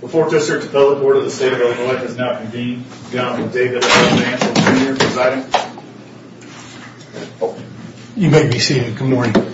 before just her to tell the board of the state of Illinois is now convened you may be seated. Good morning.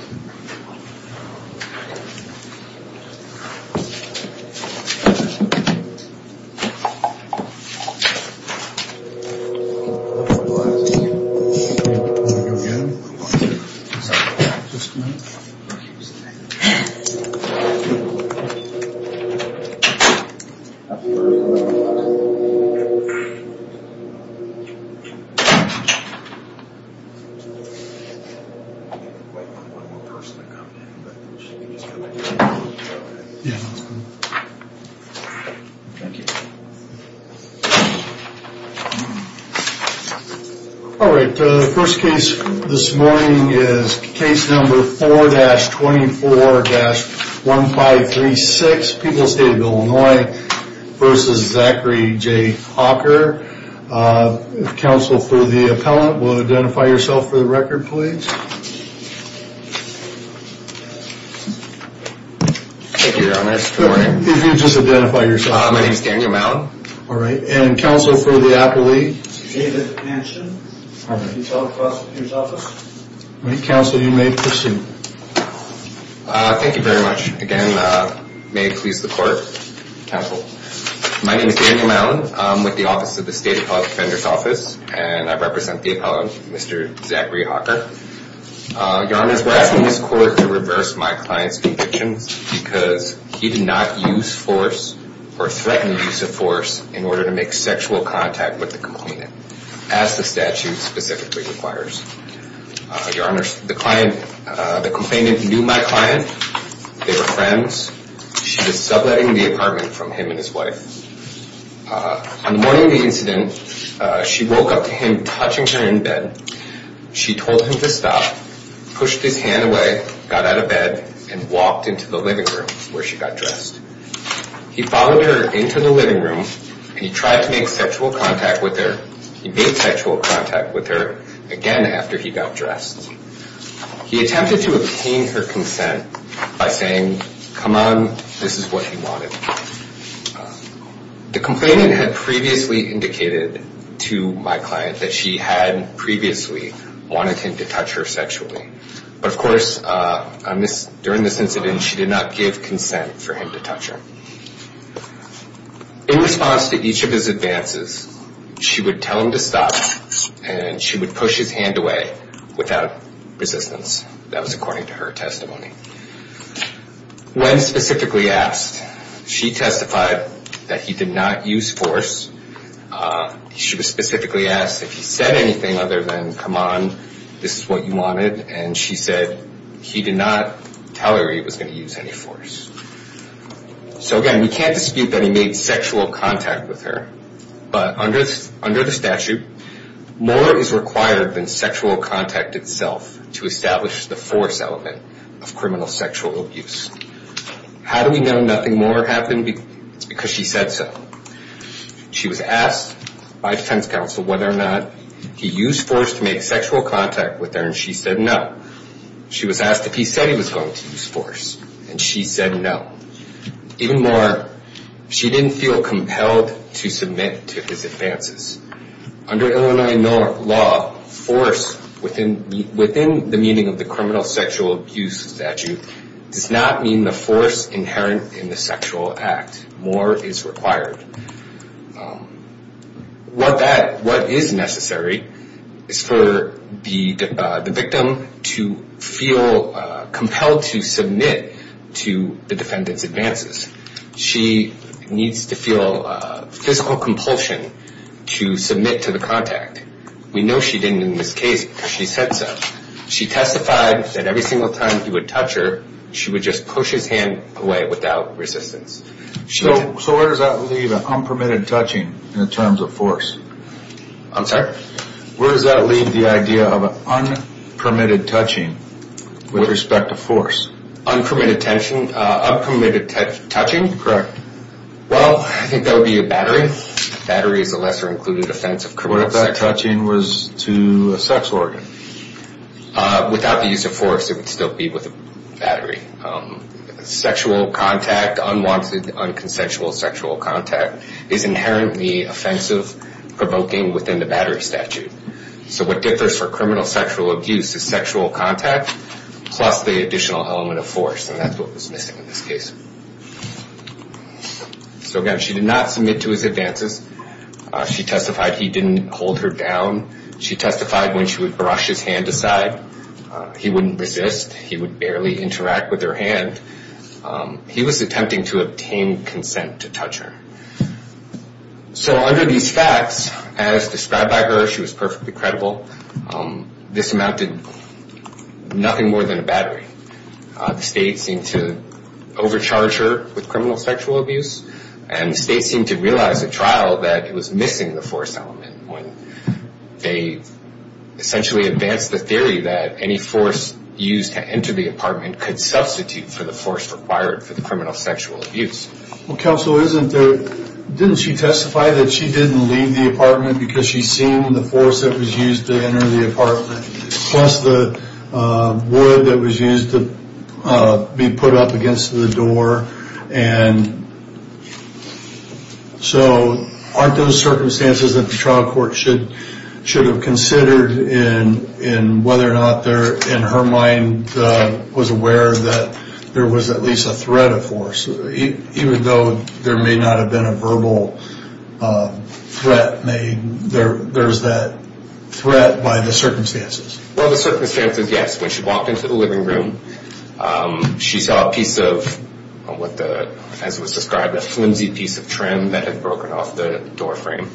Alright, the first case this morning is case number 4-24-1536, People's State of Illinois. Versus Zachary J. Hocker. Counsel for the appellant will identify yourself for the record please. Thank you your honor. Good morning. If you would just identify yourself. My name is Daniel Mallon. Alright, and counsel for the appellate. David Hanson. Alright. Can you tell the prosecutor's office. Alright, counsel you may proceed. Thank you very much. Again, may it please the court. Counsel. My name is Daniel Mallon. I'm with the office of the state appellate defender's office. And I represent the appellant, Mr. Zachary Hocker. Your honors, we're asking this court to reverse my client's convictions because he did not use force or threaten the use of force in order to make sexual contact with the complainant. As the statute specifically requires. Your honors, the client, the complainant knew my client. They were friends. She was subletting the apartment from him and his wife. On the morning of the incident, she woke up to him touching her in bed. She told him to stop, pushed his hand away, got out of bed, and walked into the living room where she got dressed. He followed her into the living room and he tried to make sexual contact with her. He made sexual contact with her again after he got dressed. He attempted to obtain her consent by saying, come on, this is what he wanted. The complainant had previously indicated to my client that she had previously wanted him to touch her sexually. But of course, during this incident, she did not give consent for him to touch her. In response to each of his advances, she would tell him to stop and she would push his hand away without resistance. That was according to her testimony. When specifically asked, she testified that he did not use force. She was specifically asked if he said anything other than, come on, this is what you wanted. And she said he did not tell her he was going to use any force. So again, we can't dispute that he made sexual contact with her. But under the statute, more is required than sexual contact itself to establish the force element of criminal sexual abuse. How do we know nothing more happened? It's because she said so. She was asked by defense counsel whether or not he used force to make sexual contact with her, and she said no. She was asked if he said he was going to use force, and she said no. Even more, she didn't feel compelled to submit to his advances. Under Illinois law, force within the meaning of the criminal sexual abuse statute does not mean the force inherent in the sexual act. More is required. What is necessary is for the victim to feel compelled to submit to the defendant's advances. She needs to feel physical compulsion to submit to the contact. We know she didn't in this case because she said so. She testified that every single time he would touch her, she would just push his hand away without resistance. So where does that leave an unpermitted touching in terms of force? I'm sorry? Where does that leave the idea of an unpermitted touching with respect to force? Unpermitted touching? Correct. Well, I think that would be a battery. Battery is a lesser-included offense of criminal sex. What if that touching was to a sex organ? Without the use of force, it would still be with a battery. Sexual contact, unwanted, unconsensual sexual contact is inherently offensive, provoking within the battery statute. So what differs for criminal sexual abuse is sexual contact plus the additional element of force, and that's what was missing in this case. So, again, she did not submit to his advances. She testified he didn't hold her down. She testified when she would brush his hand aside, he wouldn't resist. He would barely interact with her hand. He was attempting to obtain consent to touch her. So under these facts, as described by her, she was perfectly credible. This amounted to nothing more than a battery. The state seemed to overcharge her with criminal sexual abuse, and the state seemed to realize at trial that it was missing the force element when they essentially advanced the theory that any force used to enter the apartment could substitute for the force required for the criminal sexual abuse. Well, counsel, didn't she testify that she didn't leave the apartment because she'd seen the force that was used to enter the apartment plus the wood that was used to be put up against the door? And so aren't those circumstances that the trial court should have considered in whether or not in her mind was aware that there was at least a threat of force? Even though there may not have been a verbal threat made, there's that threat by the circumstances. Well, the circumstances, yes. When she walked into the living room, she saw a piece of what the defense would describe as a flimsy piece of trim that had broken off the door frame.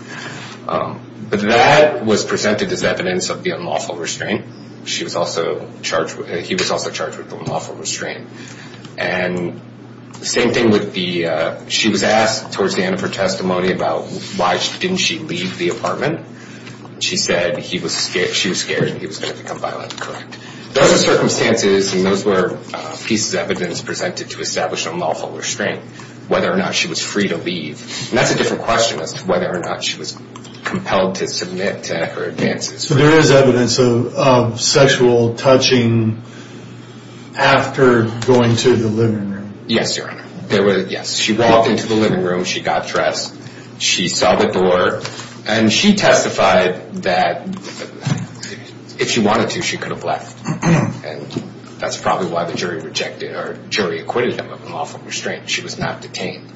But that was presented as evidence of the unlawful restraint. She was also charged with it. He was also charged with the unlawful restraint. And the same thing with the she was asked towards the end of her testimony about why didn't she leave the apartment. She said she was scared and he was going to become violent. Correct. Those are circumstances and those were pieces of evidence presented to establish unlawful restraint, whether or not she was free to leave. And that's a different question as to whether or not she was compelled to submit to her advances. So there is evidence of sexual touching after going to the living room. Yes, Your Honor. Yes. She walked into the living room. She got dressed. She saw the door. And she testified that if she wanted to, she could have left. And that's probably why the jury rejected or jury acquitted her of unlawful restraint. She was not detained.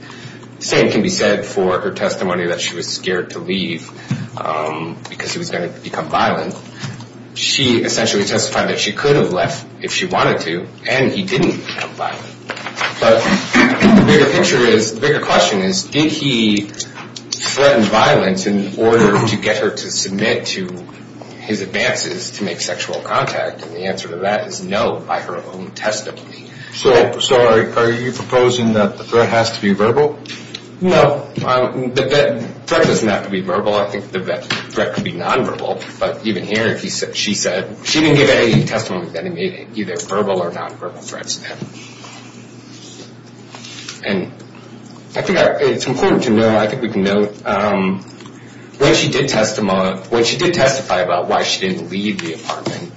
The same can be said for her testimony that she was scared to leave because he was going to become violent. She essentially testified that she could have left if she wanted to, and he didn't become violent. But the bigger picture is, the bigger question is, did he threaten violence in order to get her to submit to his advances to make sexual contact? And the answer to that is no by her own testimony. So, sorry, are you proposing that the threat has to be verbal? No, the threat doesn't have to be verbal. I think the threat could be nonverbal. But even here, she said she didn't give any testimony that made it either verbal or nonverbal threats to him. And I think it's important to note, I think we can note, when she did testify about why she didn't leave the apartment,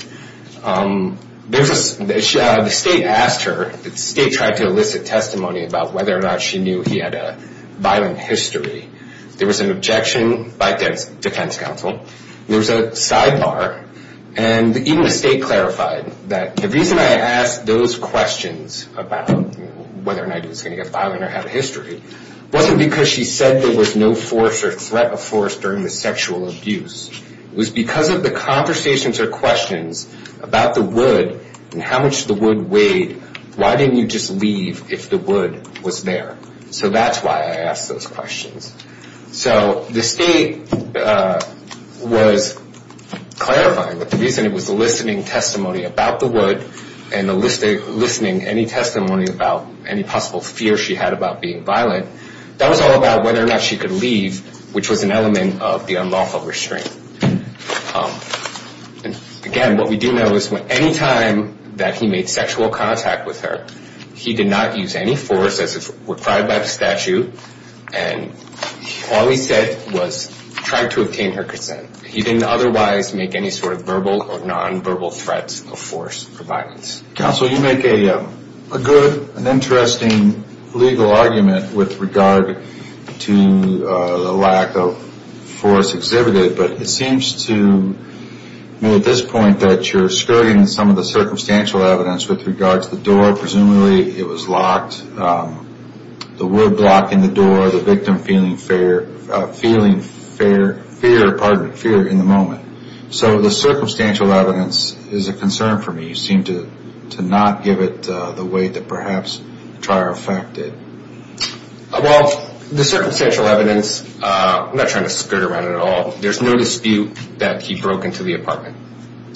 the state asked her, the state tried to elicit testimony about whether or not she knew he had a violent history. There was an objection by defense counsel. There was a sidebar. And even the state clarified that the reason I asked those questions about whether or not he was going to get violent or have a history wasn't because she said there was no force or threat of force during the sexual abuse. It was because of the conversations or questions about the wood and how much the wood weighed. Why didn't you just leave if the wood was there? So that's why I asked those questions. So the state was clarifying that the reason it was eliciting testimony about the wood and eliciting any testimony about any possible fear she had about being violent, that was all about whether or not she could leave, which was an element of the unlawful restraint. Again, what we do know is any time that he made sexual contact with her, he did not use any force as required by the statute. And all he said was try to obtain her consent. He didn't otherwise make any sort of verbal or nonverbal threats of force or violence. Counsel, you make a good and interesting legal argument with regard to the lack of force exhibited, but it seems to me at this point that you're skirting some of the circumstantial evidence with regards to the door. Presumably it was locked, the wood blocking the door, the victim feeling fear in the moment. So the circumstantial evidence is a concern for me. You seem to not give it the weight that perhaps Trier affected. Well, the circumstantial evidence, I'm not trying to skirt around it at all. There's no dispute that he broke into the apartment,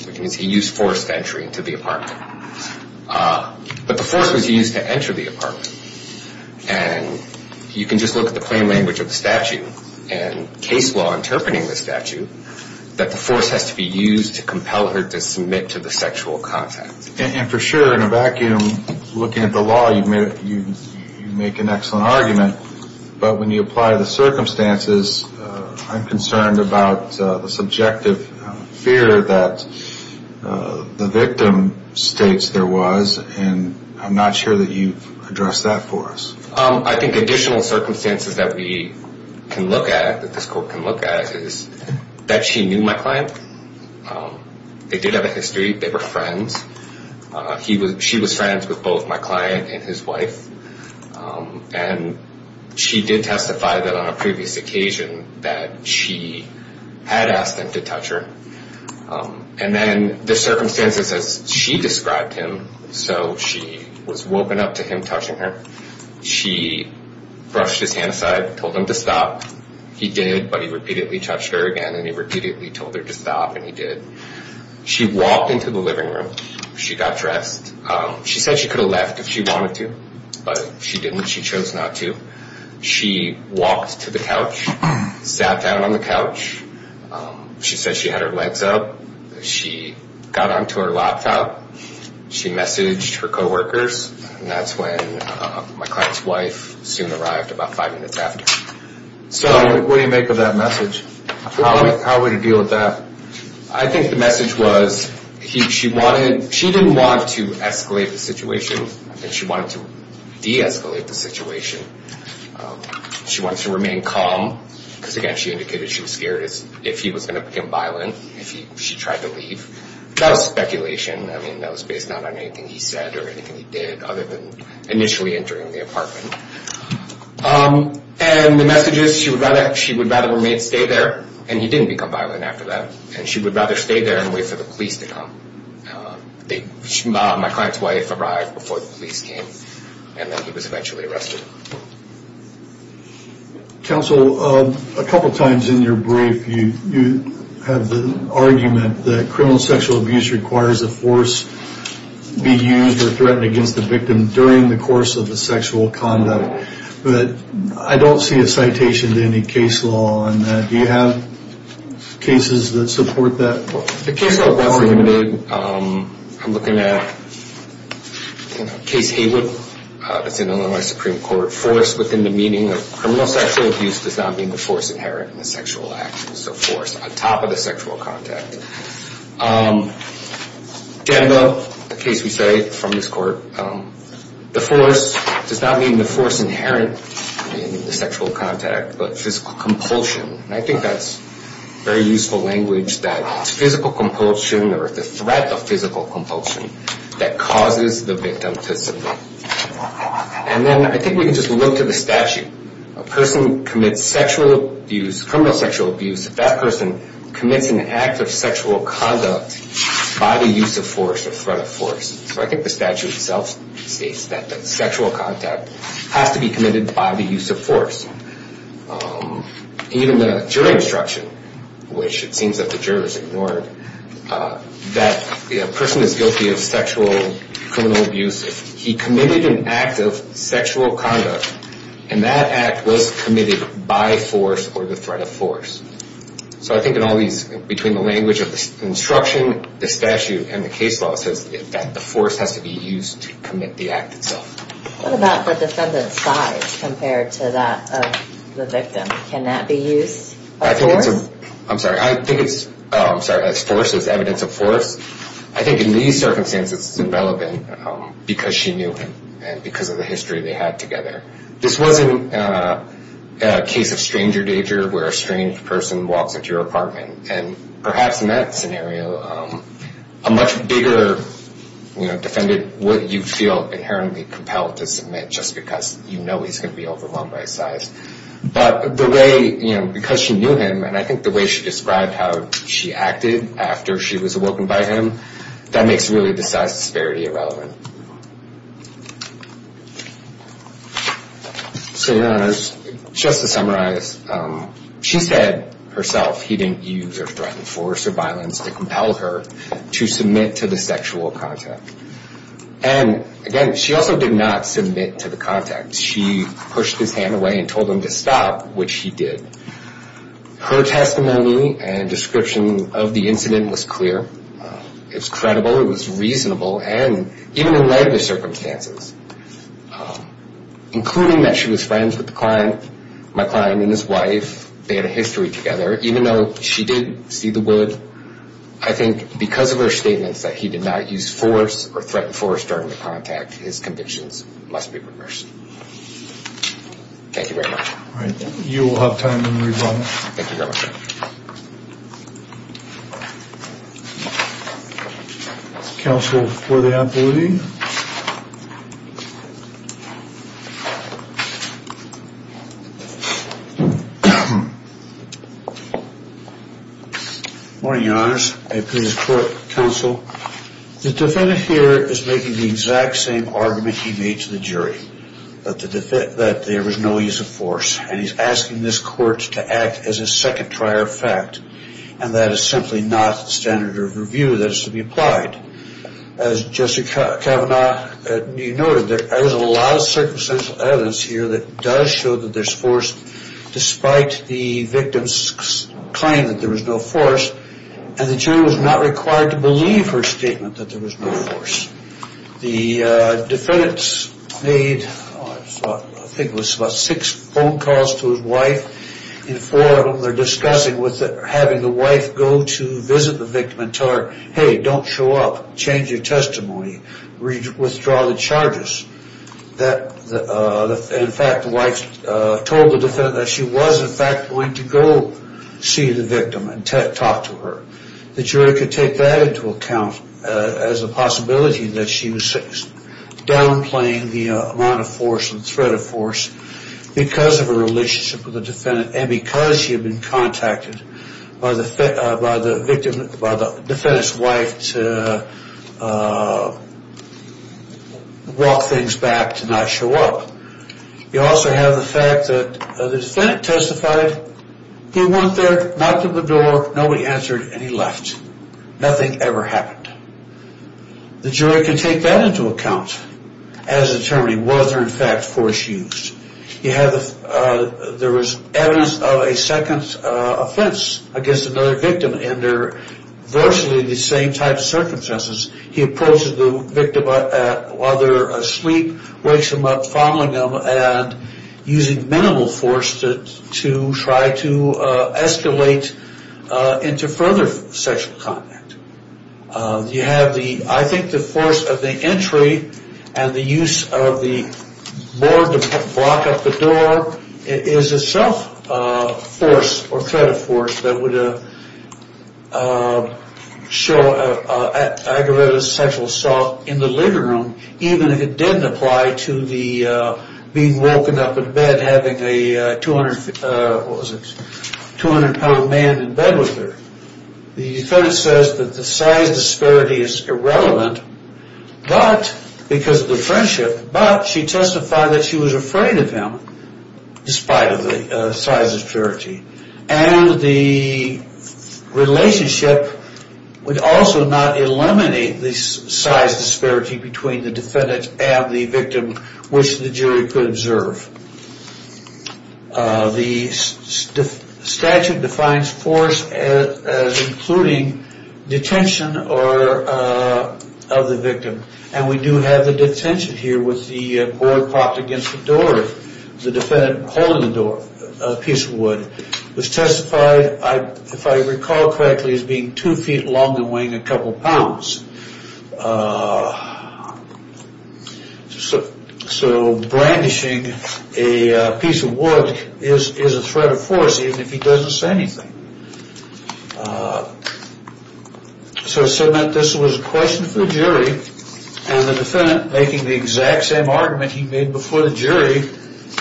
which means he used force to enter into the apartment. But the force was used to enter the apartment. And you can just look at the plain language of the statute and case law interpreting the statute that the force has to be used to compel her to submit to the sexual contact. And for sure, in a vacuum, looking at the law, you make an excellent argument. But when you apply the circumstances, I'm concerned about the subjective fear that the victim states there was, and I'm not sure that you've addressed that for us. I think additional circumstances that we can look at, that this court can look at, is that she knew my client. They did have a history. They were friends. She was friends with both my client and his wife. And she did testify that on a previous occasion that she had asked him to touch her. And then the circumstances as she described him, so she was woken up to him touching her. She brushed his hand aside, told him to stop. He did, but he repeatedly touched her again, and he repeatedly told her to stop, and he did. She walked into the living room. She got dressed. She said she could have left if she wanted to, but she didn't. She chose not to. She walked to the couch, sat down on the couch. She said she had her legs up. She got onto her laptop. She messaged her coworkers. And that's when my client's wife soon arrived about five minutes after. So what do you make of that message? How would you deal with that? I think the message was she didn't want to escalate the situation. I think she wanted to de-escalate the situation. She wanted to remain calm because, again, she indicated she was scared if he was going to become violent, if she tried to leave. That was speculation. I mean, that was based not on anything he said or anything he did other than initially entering the apartment. And the message is she would rather her mate stay there, and he didn't become violent after that, and she would rather stay there and wait for the police to come. My client's wife arrived before the police came, and then he was eventually arrested. Counsel, a couple times in your brief you have the argument that criminal sexual abuse requires a force be used or threatened against the victim during the course of the sexual conduct. But I don't see a citation to any case law on that. Do you have cases that support that? The case law is not limited. I'm looking at Case Haywood. It's in Illinois Supreme Court. Force within the meaning of criminal sexual abuse does not mean the force inherent in the sexual action, so force on top of the sexual contact. Janda, the case we cite from this court, the force does not mean the force inherent in the sexual contact, but physical compulsion. I think that's very useful language, that physical compulsion or the threat of physical compulsion that causes the victim to submit. And then I think we can just look to the statute. A person commits sexual abuse, criminal sexual abuse, if that person commits an act of sexual conduct by the use of force or threat of force. So I think the statute itself states that sexual contact has to be committed by the use of force. Even the jury instruction, which it seems that the jurors ignored, that a person is guilty of sexual criminal abuse if he committed an act of sexual conduct and that act was committed by force or the threat of force. So I think in all these, between the language of the instruction, the statute, and the case law, it says that the force has to be used to commit the act itself. What about the defendant's size compared to that of the victim? Can that be used as force? I think it's, I'm sorry, I think it's, oh, I'm sorry, as force, as evidence of force. I think in these circumstances it's irrelevant because she knew him and because of the history they had together. This wasn't a case of stranger danger where a strange person walks into your apartment. And perhaps in that scenario, a much bigger defendant would, you'd feel inherently compelled to submit just because you know he's going to be overwhelmed by size. But the way, because she knew him, and I think the way she described how she acted after she was awoken by him, that makes really the size disparity irrelevant. So just to summarize, she said herself he didn't use or threaten force or violence to compel her to submit to the sexual contact. And again, she also did not submit to the contact. She pushed his hand away and told him to stop, which he did. Her testimony and description of the incident was clear. It was credible. It was reasonable. And even in light of the circumstances, including that she was friends with the client, my client and his wife, they had a history together, even though she did see the wood, I think because of her statements that he did not use force or threaten force during the contact, his convictions must be remersed. Thank you very much. All right. You will have time to read one. Thank you very much. Counsel for the appellee. Good morning, Your Honor. I appeal to the court, counsel. The defendant here is making the exact same argument he made to the jury, that there was no use of force, and he is asking this court to act as a second prior fact, and that is simply not the standard of review that is to be applied. As Justice Kavanaugh noted, there is a lot of circumstantial evidence here that does show that there is force, despite the victim's claim that there was no force, and the jury was not required to believe her statement that there was no force. The defendants made, I think it was about six phone calls to his wife, and four of them were discussing having the wife go to visit the victim and tell her, hey, don't show up, change your testimony, withdraw the charges. In fact, the wife told the defendant that she was in fact going to go see the victim and talk to her. The jury could take that into account as a possibility that she was downplaying the amount of force and threat of force because of her relationship with the defendant and because she had been contacted by the defendant's wife to walk things back to not show up. You also have the fact that the defendant testified, he went there, knocked on the door, nobody answered, and he left. Nothing ever happened. The jury can take that into account as determining whether, in fact, force used. There was evidence of a second offense against another victim, and they're virtually the same type of circumstances. He approaches the victim while they're asleep, wakes them up, and using minimal force to try to escalate into further sexual contact. You have the, I think, the force of the entry and the use of the board to block up the door is itself force or threat of force that would show aggravated sexual assault in the living room, even if it didn't apply to the being woken up in bed having a 200-pound man in bed with her. The defendant says that the size disparity is irrelevant because of the friendship, but she testified that she was afraid of him, despite of the size disparity, and the relationship would also not eliminate the size disparity between the defendant and the victim, which the jury could observe. The statute defines force as including detention of the victim, and we do have the detention here with the board propped against the door, the defendant holding the door, a piece of wood, was testified, if I recall correctly, as being two feet long and weighing a couple pounds. So brandishing a piece of wood is a threat of force, even if he doesn't say anything. So it said that this was a question for the jury, and the defendant, making the exact same argument he made before the jury,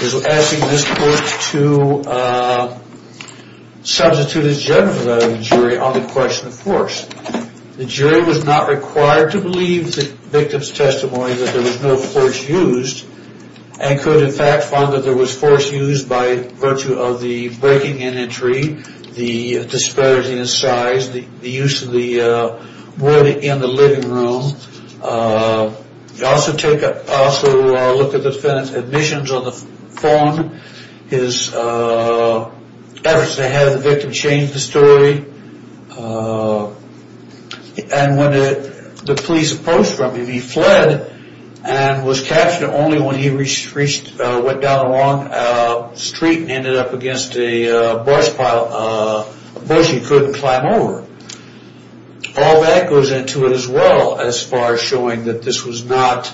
is asking this court to substitute his judgment for that of the jury on the question of force. The jury was not required to believe the victim's testimony that there was no force used, and could in fact find that there was force used by virtue of the breaking in entry, the disparity in size, the use of the wood in the living room. Also look at the defendant's admissions on the phone, his efforts to have the victim change the story, and what the police opposed from him. He fled and was captured only when he went down a long street and ended up against a bush he couldn't climb over. All that goes into it as well as far as showing that this was not,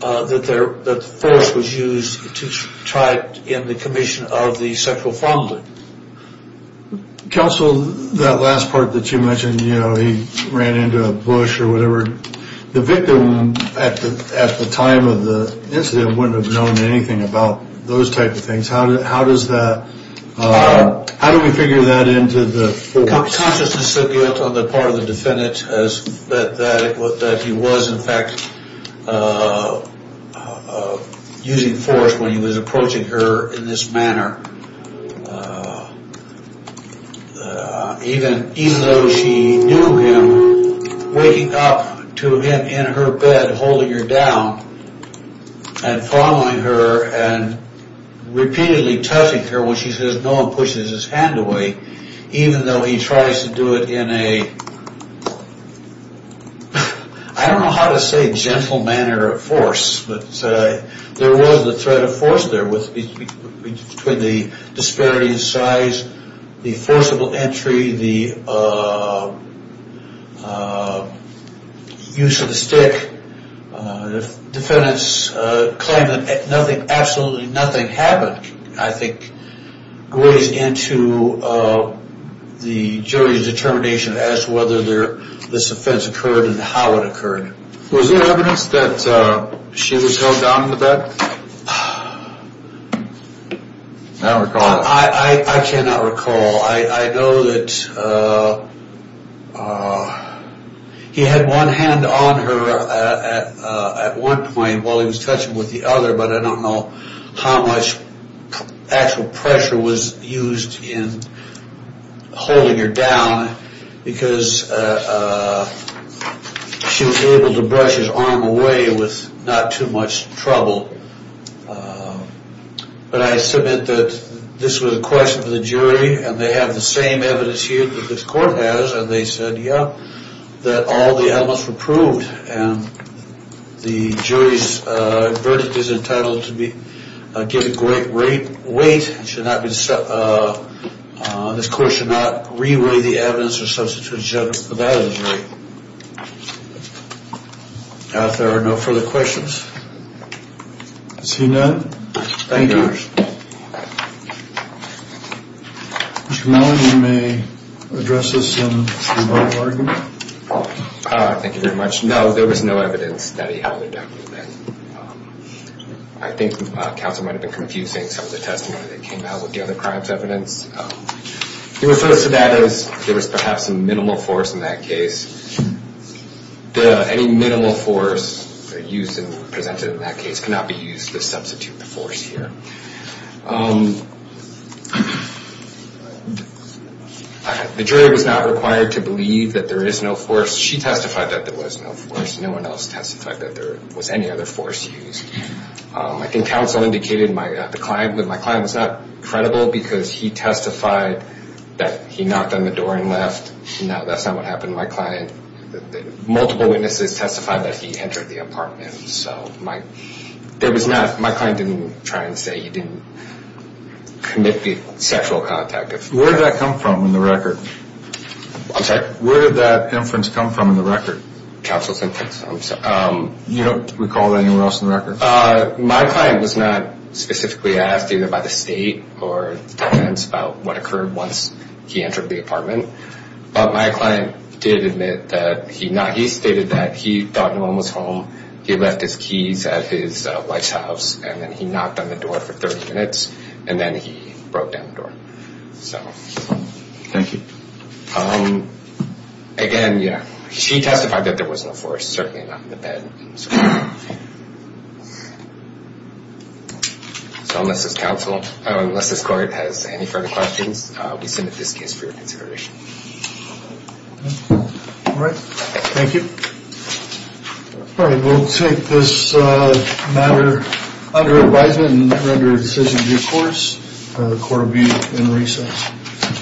that the force was used to try to end the commission of the sexual assault. Counsel, that last part that you mentioned, you know, he ran into a bush or whatever, the victim at the time of the incident wouldn't have known anything about those types of things. How does that, how do we figure that into the force? Consciousness of guilt on the part of the defendant as that he was in fact using force when he was approaching her in this manner. Even though she knew him, waking up to him in her bed holding her down and following her and repeatedly touching her when she says no one pushes his hand away, even though he tries to do it in a, I don't know how to say gentle manner of force, but there was a threat of force there between the disparity in size, the forcible entry, the use of the stick. Defendants claim that nothing, absolutely nothing happened, I think weighs into the jury's determination as to whether this offense occurred and how it occurred. Was there evidence that she was held down in the bed? I don't recall. I cannot recall. I know that he had one hand on her at one point while he was touching with the other, but I don't know how much actual pressure was used in holding her down because she was able to brush his arm away with not too much trouble. But I submit that this was a question for the jury and they have the same evidence here that this court has and they said, yeah, that all the elements were proved and the jury's verdict is entitled to be given great weight. This court should not re-weigh the evidence or substitute a judge's evaluation. If there are no further questions. Seeing none, thank you. Mr. Mellon, you may address this in your final argument. Thank you very much. No, there was no evidence that he held her down in the bed. I think counsel might have been confusing some of the testimony that came out with the other crime's evidence. He refers to that as there was perhaps a minimal force in that case. Any minimal force used and presented in that case cannot be used to substitute the force here. The jury was not required to believe that there is no force. She testified that there was no force. No one else testified that there was any other force used. I think counsel indicated that my client was not credible because he testified that he knocked on the door and left. No, that's not what happened to my client. Multiple witnesses testified that he entered the apartment. So my client didn't try and say he didn't commit sexual contact. Where did that come from in the record? I'm sorry? Where did that inference come from in the record? Counsel's inference, I'm sorry. You don't recall that anywhere else in the record? My client was not specifically asked either by the state or the defense about what occurred once he entered the apartment. But my client did admit that he stated that he thought no one was home. He left his keys at his wife's house, and then he knocked on the door for 30 minutes, and then he broke down the door. Thank you. Again, yeah, she testified that there was no force, certainly not in the bed. So unless this court has any further questions, we submit this case for your consideration. All right, thank you. All right, we'll take this matter under advisement and render a decision due course. The court will be in recess.